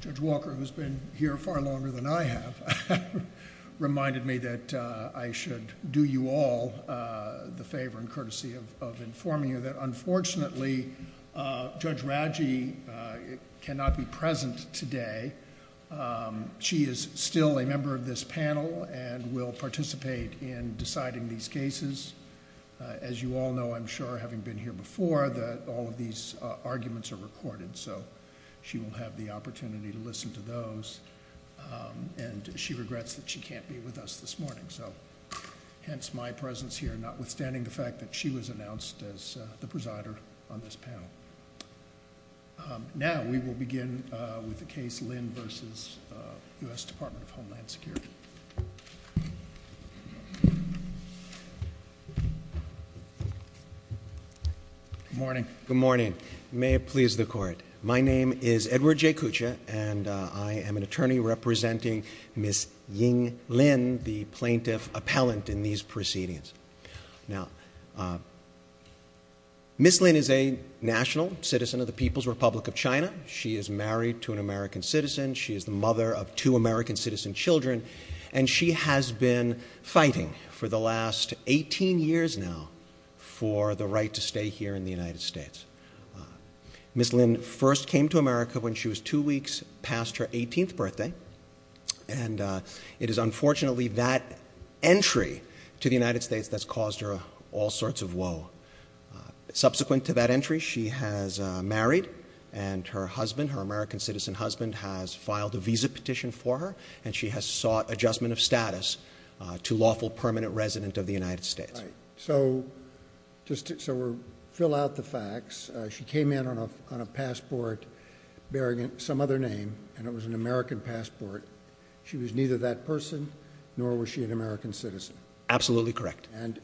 Judge Walker, who has been here far longer than I have, reminded me that I should do you all the favor and courtesy of informing you that unfortunately Judge Radji cannot be present today. She is still a member of this panel and will participate in deciding these cases. As you all know, I'm sure, having been here before, that all of these arguments are recorded, so she will have the opportunity to listen to those. And she regrets that she can't be with us this morning, so hence my presence here, not withstanding the fact that she was announced as the presider on this panel. Now we will begin with the case Lynn v. U.S. Department of Homeland Security. Good morning. Good morning. May it please the court. My name is Edward J. Kucha and I am an attorney representing Ms. Ying Lynn, the plaintiff appellant in these proceedings. Ms. Lynn is a national citizen of the People's Republic of China. She is married to an American citizen. She is the mother of two American citizen children. And she has been fighting for the last 18 years now for the right to stay here in the United States. Ms. Lynn first came to America when she was two weeks past her 18th birthday, and it is unfortunately that entry to the United States that's caused her all sorts of woe. Subsequent to that entry, she has married and her husband, her American citizen husband, has filed a visa petition for her and she has sought adjustment of status to lawful permanent resident of the United States. So just to fill out the facts, she came in on a passport bearing some other name and it was an American passport. She was neither that person nor was she an American citizen. Absolutely correct. And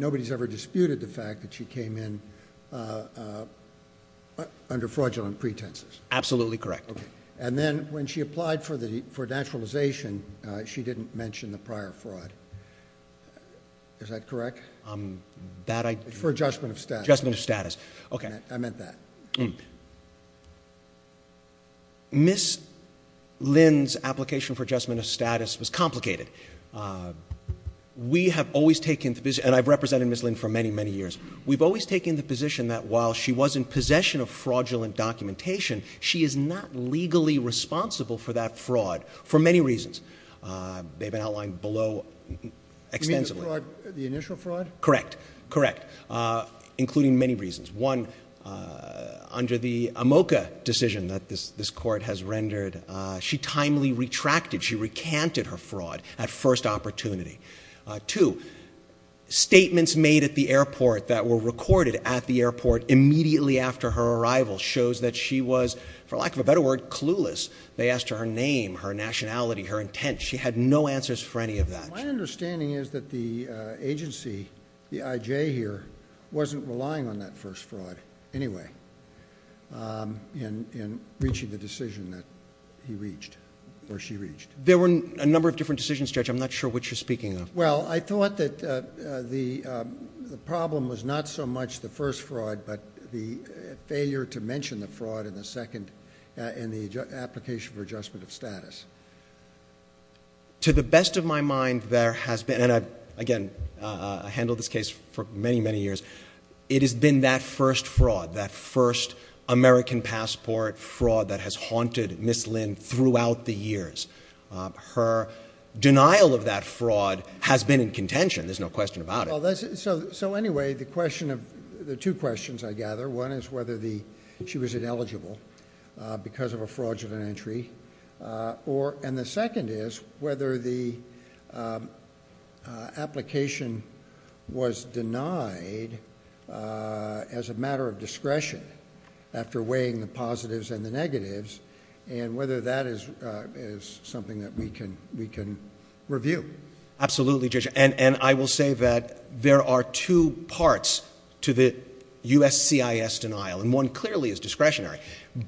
nobody's ever disputed the fact that she came in under fraudulent pretenses. Absolutely correct. And then when she applied for naturalization, she didn't mention the prior fraud. Is that correct? For adjustment of status. Adjustment of status. Okay. I meant that. Ms. Lynn's application for adjustment of status was complicated. We have always taken, and I've represented Ms. Lynn for many, many years, we've always of fraudulent documentation. She is not legally responsible for that fraud for many reasons. They've been outlined below extensively. You mean the fraud, the initial fraud? Correct. Correct. Including many reasons. One, under the AMOCA decision that this court has rendered, she timely retracted, she recanted her fraud at first opportunity. Two, statements made at the airport that were recorded at the airport immediately after her arrival shows that she was, for lack of a better word, clueless. They asked her name, her nationality, her intent. She had no answers for any of that. My understanding is that the agency, the IJ here, wasn't relying on that first fraud anyway in reaching the decision that he reached, or she reached. There were a number of different decisions, Judge. I'm not sure which you're speaking of. Well, I thought that the problem was not so much the first fraud, but the failure to mention the fraud in the second, in the application for adjustment of status. To the best of my mind, there has been, and again, I handled this case for many, many years, it has been that first fraud, that first American passport fraud that has haunted Ms. Lynn throughout the years. Her denial of that fraud has been in contention, there's no question about it. So anyway, the two questions I gather, one is whether she was ineligible because of a fraudulent entry, and the second is whether the application was denied as a matter of something that we can review. Absolutely, Judge, and I will say that there are two parts to the USCIS denial, and one clearly is discretionary,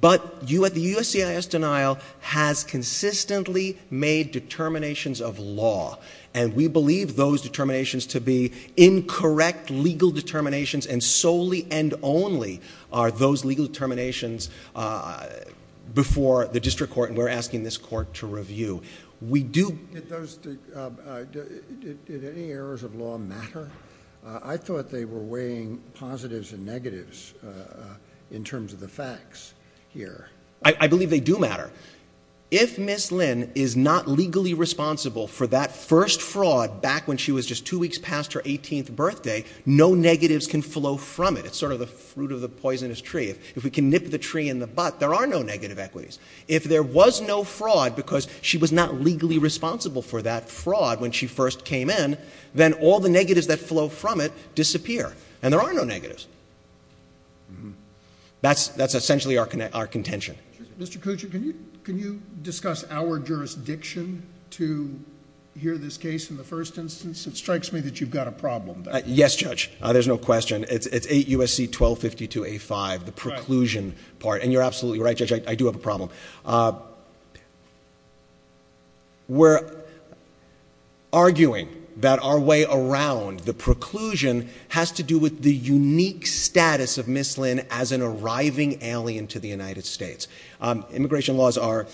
but the USCIS denial has consistently made determinations of law, and we believe those determinations to be incorrect legal determinations, and solely and only are those legal determinations before the district court, and we're asking this of you. We do... Did those, did any errors of law matter? I thought they were weighing positives and negatives in terms of the facts here. I believe they do matter. If Ms. Lynn is not legally responsible for that first fraud back when she was just two weeks past her 18th birthday, no negatives can flow from it, it's sort of the fruit of the poisonous tree. If we can nip the tree in the butt, there are no negative equities. If there was no fraud because she was not legally responsible for that fraud when she first came in, then all the negatives that flow from it disappear, and there are no negatives. That's essentially our contention. Mr. Kuchar, can you discuss our jurisdiction to hear this case in the first instance? It strikes me that you've got a problem there. Yes, Judge, there's no question. It's 8 U.S.C. 1252A5, the preclusion part, and you're absolutely right, Judge, I do have a problem. We're arguing that our way around the preclusion has to do with the unique status of Ms. Lynn as an arriving alien to the United States. Immigration laws are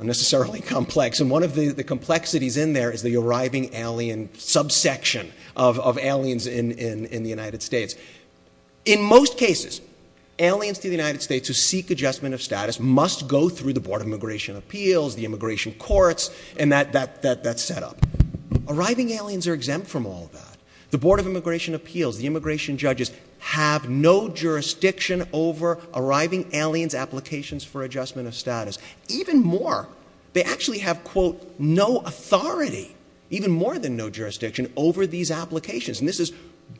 unnecessarily complex, and one of the complexities in there is the arriving alien subsection of aliens in the United States. In most cases, aliens to the United States who seek adjustment of status must go through the Board of Immigration Appeals, the immigration courts, and that setup. Arriving aliens are exempt from all of that. The Board of Immigration Appeals, the immigration judges, have no jurisdiction over arriving aliens' applications for adjustment of status. Even more, they actually have, quote, no authority, even more than no jurisdiction, over these applications. And this is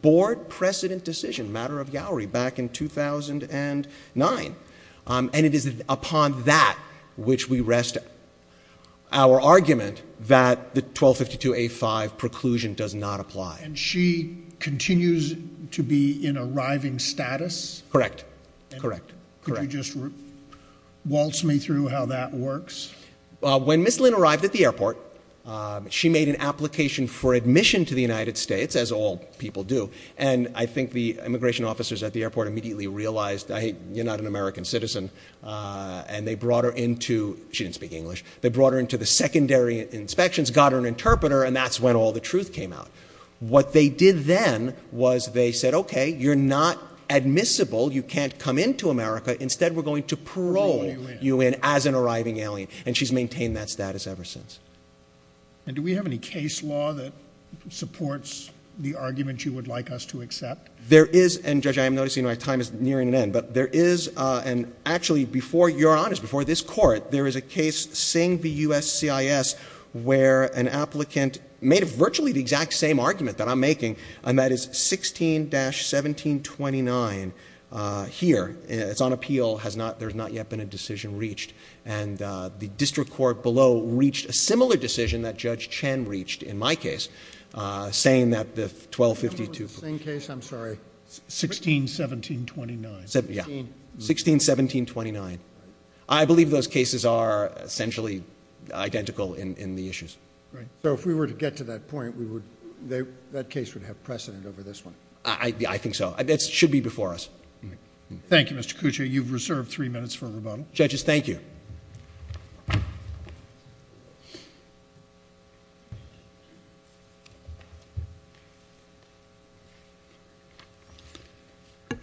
Board precedent decision, matter of Yowery, back in 2009. And it is upon that which we rest our argument that the 1252A5 preclusion does not apply. And she continues to be in arriving status? Correct. Correct. Correct. Could you just waltz me through how that works? When Ms. Lynn arrived at the airport, she made an application for admission to the United States, as all people do. And I think the immigration officers at the airport immediately realized, hey, you're not an American citizen. And they brought her into, she didn't speak English, they brought her into the secondary inspections, got her an interpreter, and that's when all the truth came out. What they did then was they said, okay, you're not admissible, you can't come into America. Instead, we're going to parole you in as an arriving alien. And she's maintained that status ever since. And do we have any case law that supports the argument you would like us to accept? There is, and Judge, I am noticing my time is nearing an end, but there is, and actually before you're on this, before this court, there is a case, Sing v. USCIS, where an applicant made virtually the exact same argument that I'm making, and that is 16-1729 here. It's on appeal, there's not yet been a decision reached. And the district court below reached a similar decision that Judge Chen reached in my case, saying that the 1252... The same case, I'm sorry. 16-1729. Yeah. 16-1729. I believe those cases are essentially identical in the issues. Right. So if we were to get to that point, we would, that case would have precedent over this one. I think so. It should be before us. Thank you, Mr. Cuccia. You've reserved three minutes for rebuttal. Judges, thank you.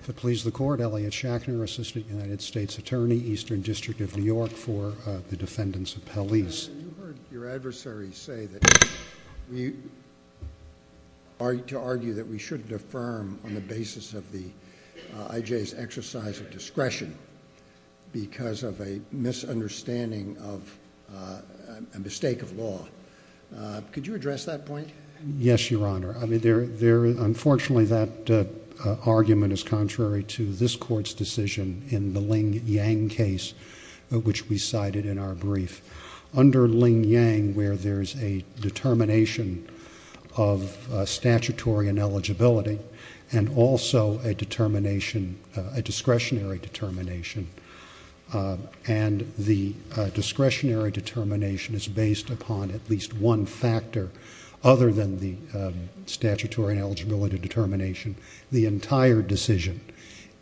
To please the Court, Elliot Shachner, Assistant United States Attorney, Eastern District of New York, for the defendants of Pellease. You heard your adversary say that we, to argue that we shouldn't affirm on the basis of the judge's exercise of discretion because of a misunderstanding of, a mistake of law. Could you address that point? Yes, Your Honor. I mean, there, there, unfortunately, that argument is contrary to this Court's decision in the Ling Yang case, which we cited in our brief. Under Ling Yang, where there's a determination of statutory ineligibility and also a determination a discretionary determination, and the discretionary determination is based upon at least one factor other than the statutory ineligibility determination. The entire decision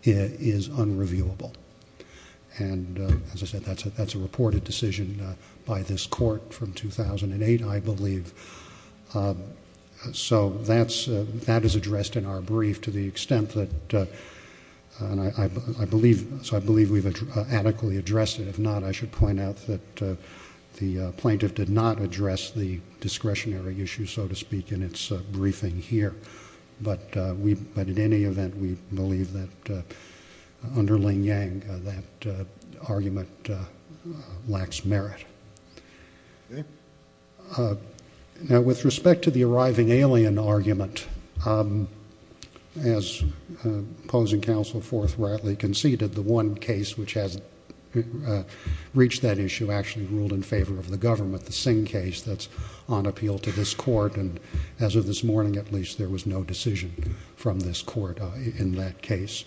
is unreviewable, and as I said, that's a, that's a reported decision by this Court from 2008, I believe. So that's, that is addressed in our brief to the extent that, and I believe, so I believe we've adequately addressed it. If not, I should point out that the plaintiff did not address the discretionary issue, so to speak, in its briefing here. But we, but at any event, we believe that under Ling Yang, that argument lacks merit. Okay. Now, with respect to the arriving alien argument, as opposing counsel forthrightly conceded, the one case which has reached that issue actually ruled in favor of the government, the Singh case that's on appeal to this Court, and as of this morning, at least, there was no decision from this Court in that case.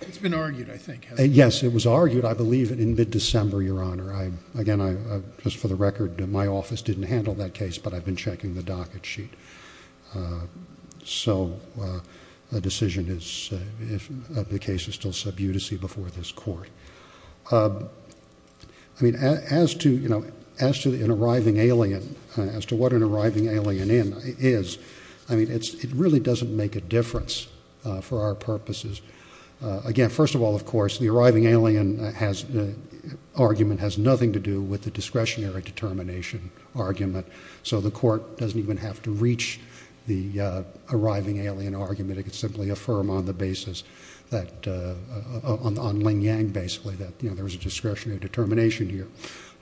It's been argued, I think, hasn't it? Yes, it was argued. But I believe that in mid-December, Your Honor, I, again, I, just for the record, my office didn't handle that case, but I've been checking the docket sheet. So the decision is, if the case is still sub-udicy before this Court. I mean, as to, you know, as to an arriving alien, as to what an arriving alien is, I mean, it's, it really doesn't make a difference for our purposes. Again, first of all, of course, the arriving alien has, argument has nothing to do with the discretionary determination argument. So the Court doesn't even have to reach the arriving alien argument. It could simply affirm on the basis that, on Ling Yang, basically, that, you know, there was a discretionary determination here.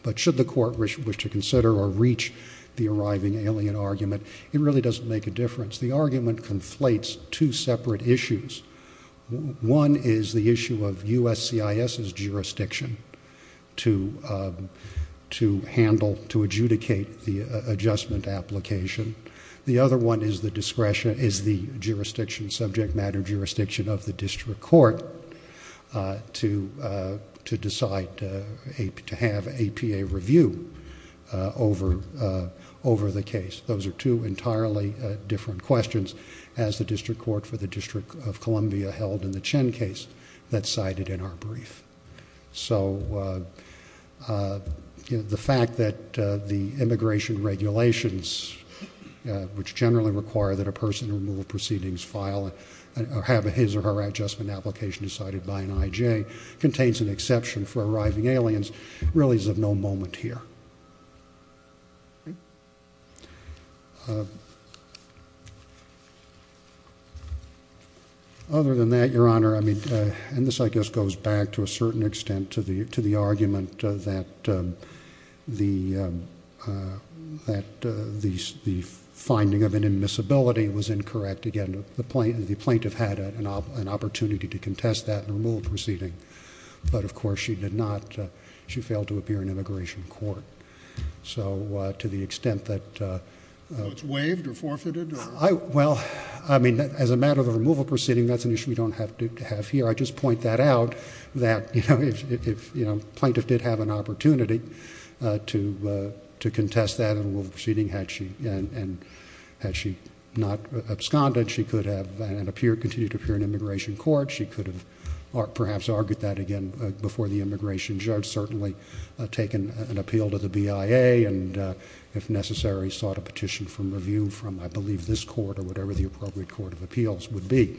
But should the Court wish to consider or reach the arriving alien argument, it really doesn't make a difference. The argument conflates two separate issues. One is the issue of USCIS's jurisdiction to handle, to adjudicate the adjustment application. The other one is the discretion, is the jurisdiction, subject matter jurisdiction of the district court to decide to have APA review over the case. Those are two entirely different questions as the district court for the District of Columbia held in the Chen case that's cited in our brief. So, uh, uh, the fact that, uh, the immigration regulations, uh, which generally require that a person to remove proceedings file or have his or her adjustment application decided by an IJ, contains an exception for arriving aliens, really is of no moment here. Uh, other than that, Your Honor, I mean, uh, and this, I guess, goes back to a certain extent to the, to the argument that, um, the, um, uh, that, uh, the, the finding of an admissibility was incorrect. Again, the plaintiff had an opportunity to contest that and remove the proceeding, but of course she did not, uh, she failed to appear in immigration court. So, uh, to the extent that, uh, uh... So it's waived or forfeited or... I, well, I mean, as a matter of removal proceeding, that's an issue we don't have to have here. I just point that out that, you know, if, if, you know, plaintiff did have an opportunity, uh, to, uh, to contest that and remove the proceeding had she, and, and had she not absconded, she could have, and appear, continue to appear in immigration court. She could have perhaps argued that again, uh, before the immigration judge, certainly taken an appeal to the BIA and, uh, if necessary, sought a petition for review from, I believe, this court or whatever the appropriate court of appeals would be.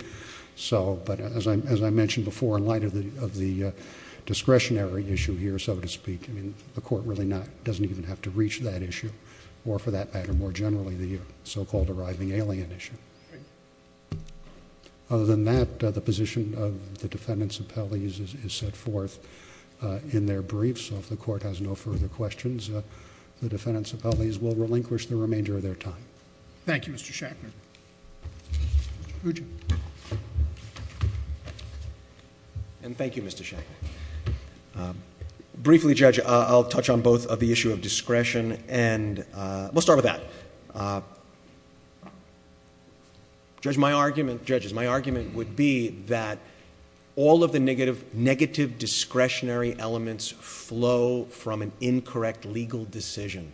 So, but as I, as I mentioned before, in light of the, of the, uh, discretionary issue here, so to speak, I mean, the court really not, doesn't even have to reach that issue or for that matter, more generally, the so-called arriving alien issue. Other than that, uh, the position of the defendants' appellees is, is set forth, uh, in their briefs. So if the court has no further questions, uh, the defendants' appellees will relinquish the remainder of their time. Thank you, Mr. Shachner. And thank you, Mr. Shachner, um, briefly judge, uh, I'll touch on both of the issue of discretion and, uh, we'll start with that. Uh, judge, my argument, judges, my argument would be that all of the negative, negative discretionary elements flow from an incorrect legal decision.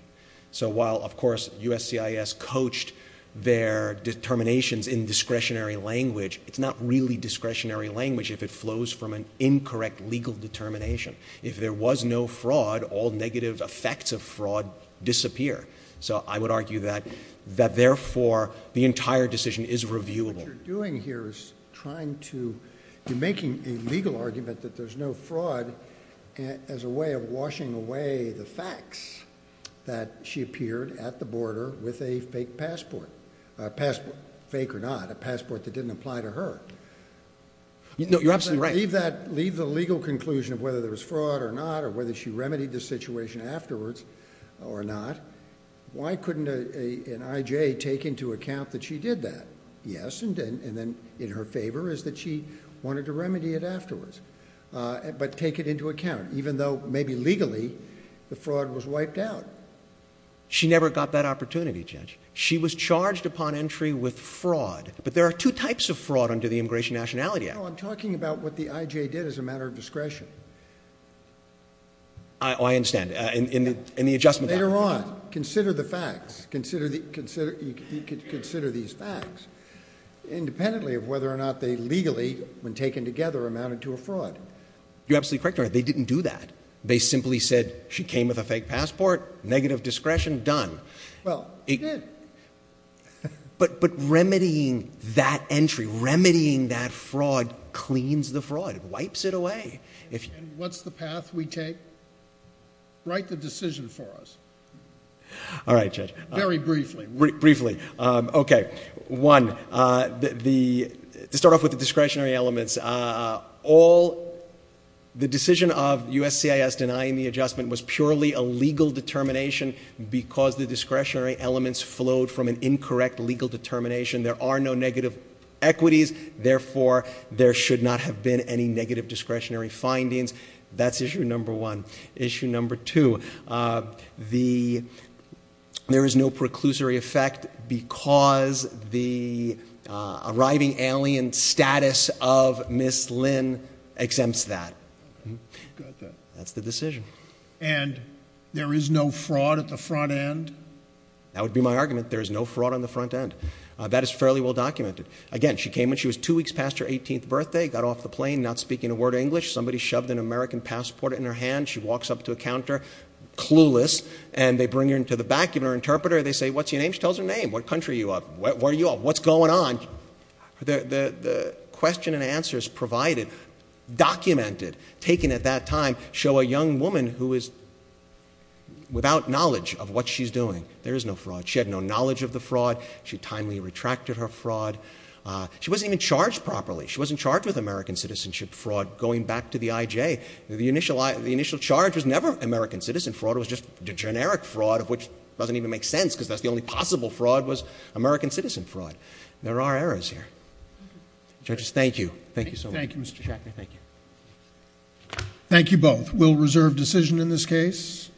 So while of course USCIS coached their determinations in discretionary language, it's not really discretionary language if it flows from an incorrect legal determination. If there was no fraud, all negative effects of fraud disappear. So I would argue that, that therefore the entire decision is reviewable. What you're doing here is trying to, you're making a legal argument that there's no fraud as a way of washing away the facts that she appeared at the border with a fake passport, a passport, fake or not, a passport that didn't apply to her. No, you're absolutely right. Leave that, leave the legal conclusion of whether there was fraud or not, or whether she remedied the situation afterwards or not, why couldn't an IJ take into account that she did that? Yes. And then, and then in her favor is that she wanted to remedy it afterwards, uh, but take it into account, even though maybe legally the fraud was wiped out. She never got that opportunity, judge. She was charged upon entry with fraud, but there are two types of fraud under the Immigration Nationality Act. No, I'm talking about what the IJ did as a matter of discretion. I understand. Uh, in, in the, in the adjustment. Later on, consider the facts, consider the, consider, you could consider these facts independently of whether or not they legally, when taken together, amounted to a fraud. You're absolutely correct, Your Honor. They didn't do that. They simply said she came with a fake passport, negative discretion, done. Well, they did. But, but remedying that entry, remedying that fraud cleans the fraud, wipes it away. And what's the path we take? Write the decision for us. All right, Judge. Very briefly. Briefly. Um, okay. One, uh, the, the, to start off with the discretionary elements, uh, all the decision of USCIS denying the adjustment was purely a legal determination because the discretionary elements flowed from an incorrect legal determination. There are no negative equities, therefore, there should not have been any negative discretionary findings. That's issue number one. Issue number two, uh, the, there is no preclusory effect because the, uh, arriving alien status of Ms. Lynn exempts that. Got that. That's the decision. And there is no fraud at the front end? That would be my argument. There is no fraud on the front end. Uh, that is fairly well documented. Again, she came when she was two weeks past her 18th birthday, got off the plane not speaking a word of English. Somebody shoved an American passport in her hand. She walks up to a counter, clueless, and they bring her into the back of her interpreter. They say, what's your name? She tells her name. What country are you of? Where are you of? What's going on? There is no fraud. The, the, the question and answer is provided, documented, taken at that time, show a young woman who is without knowledge of what she's doing. There is no fraud. She had no knowledge of the fraud. She timely retracted her fraud. Uh, she wasn't even charged properly. She wasn't charged with American citizenship fraud going back to the IJ. The initial I, the initial charge was never American citizen fraud, it was just generic fraud of which doesn't even make sense because that's the only possible fraud was American citizen fraud. There are errors here. Judges, thank you. Thank you so much. Thank you, Mr. Chairman. Thank you. Thank you. Thank you both. We'll reserve decision in this case.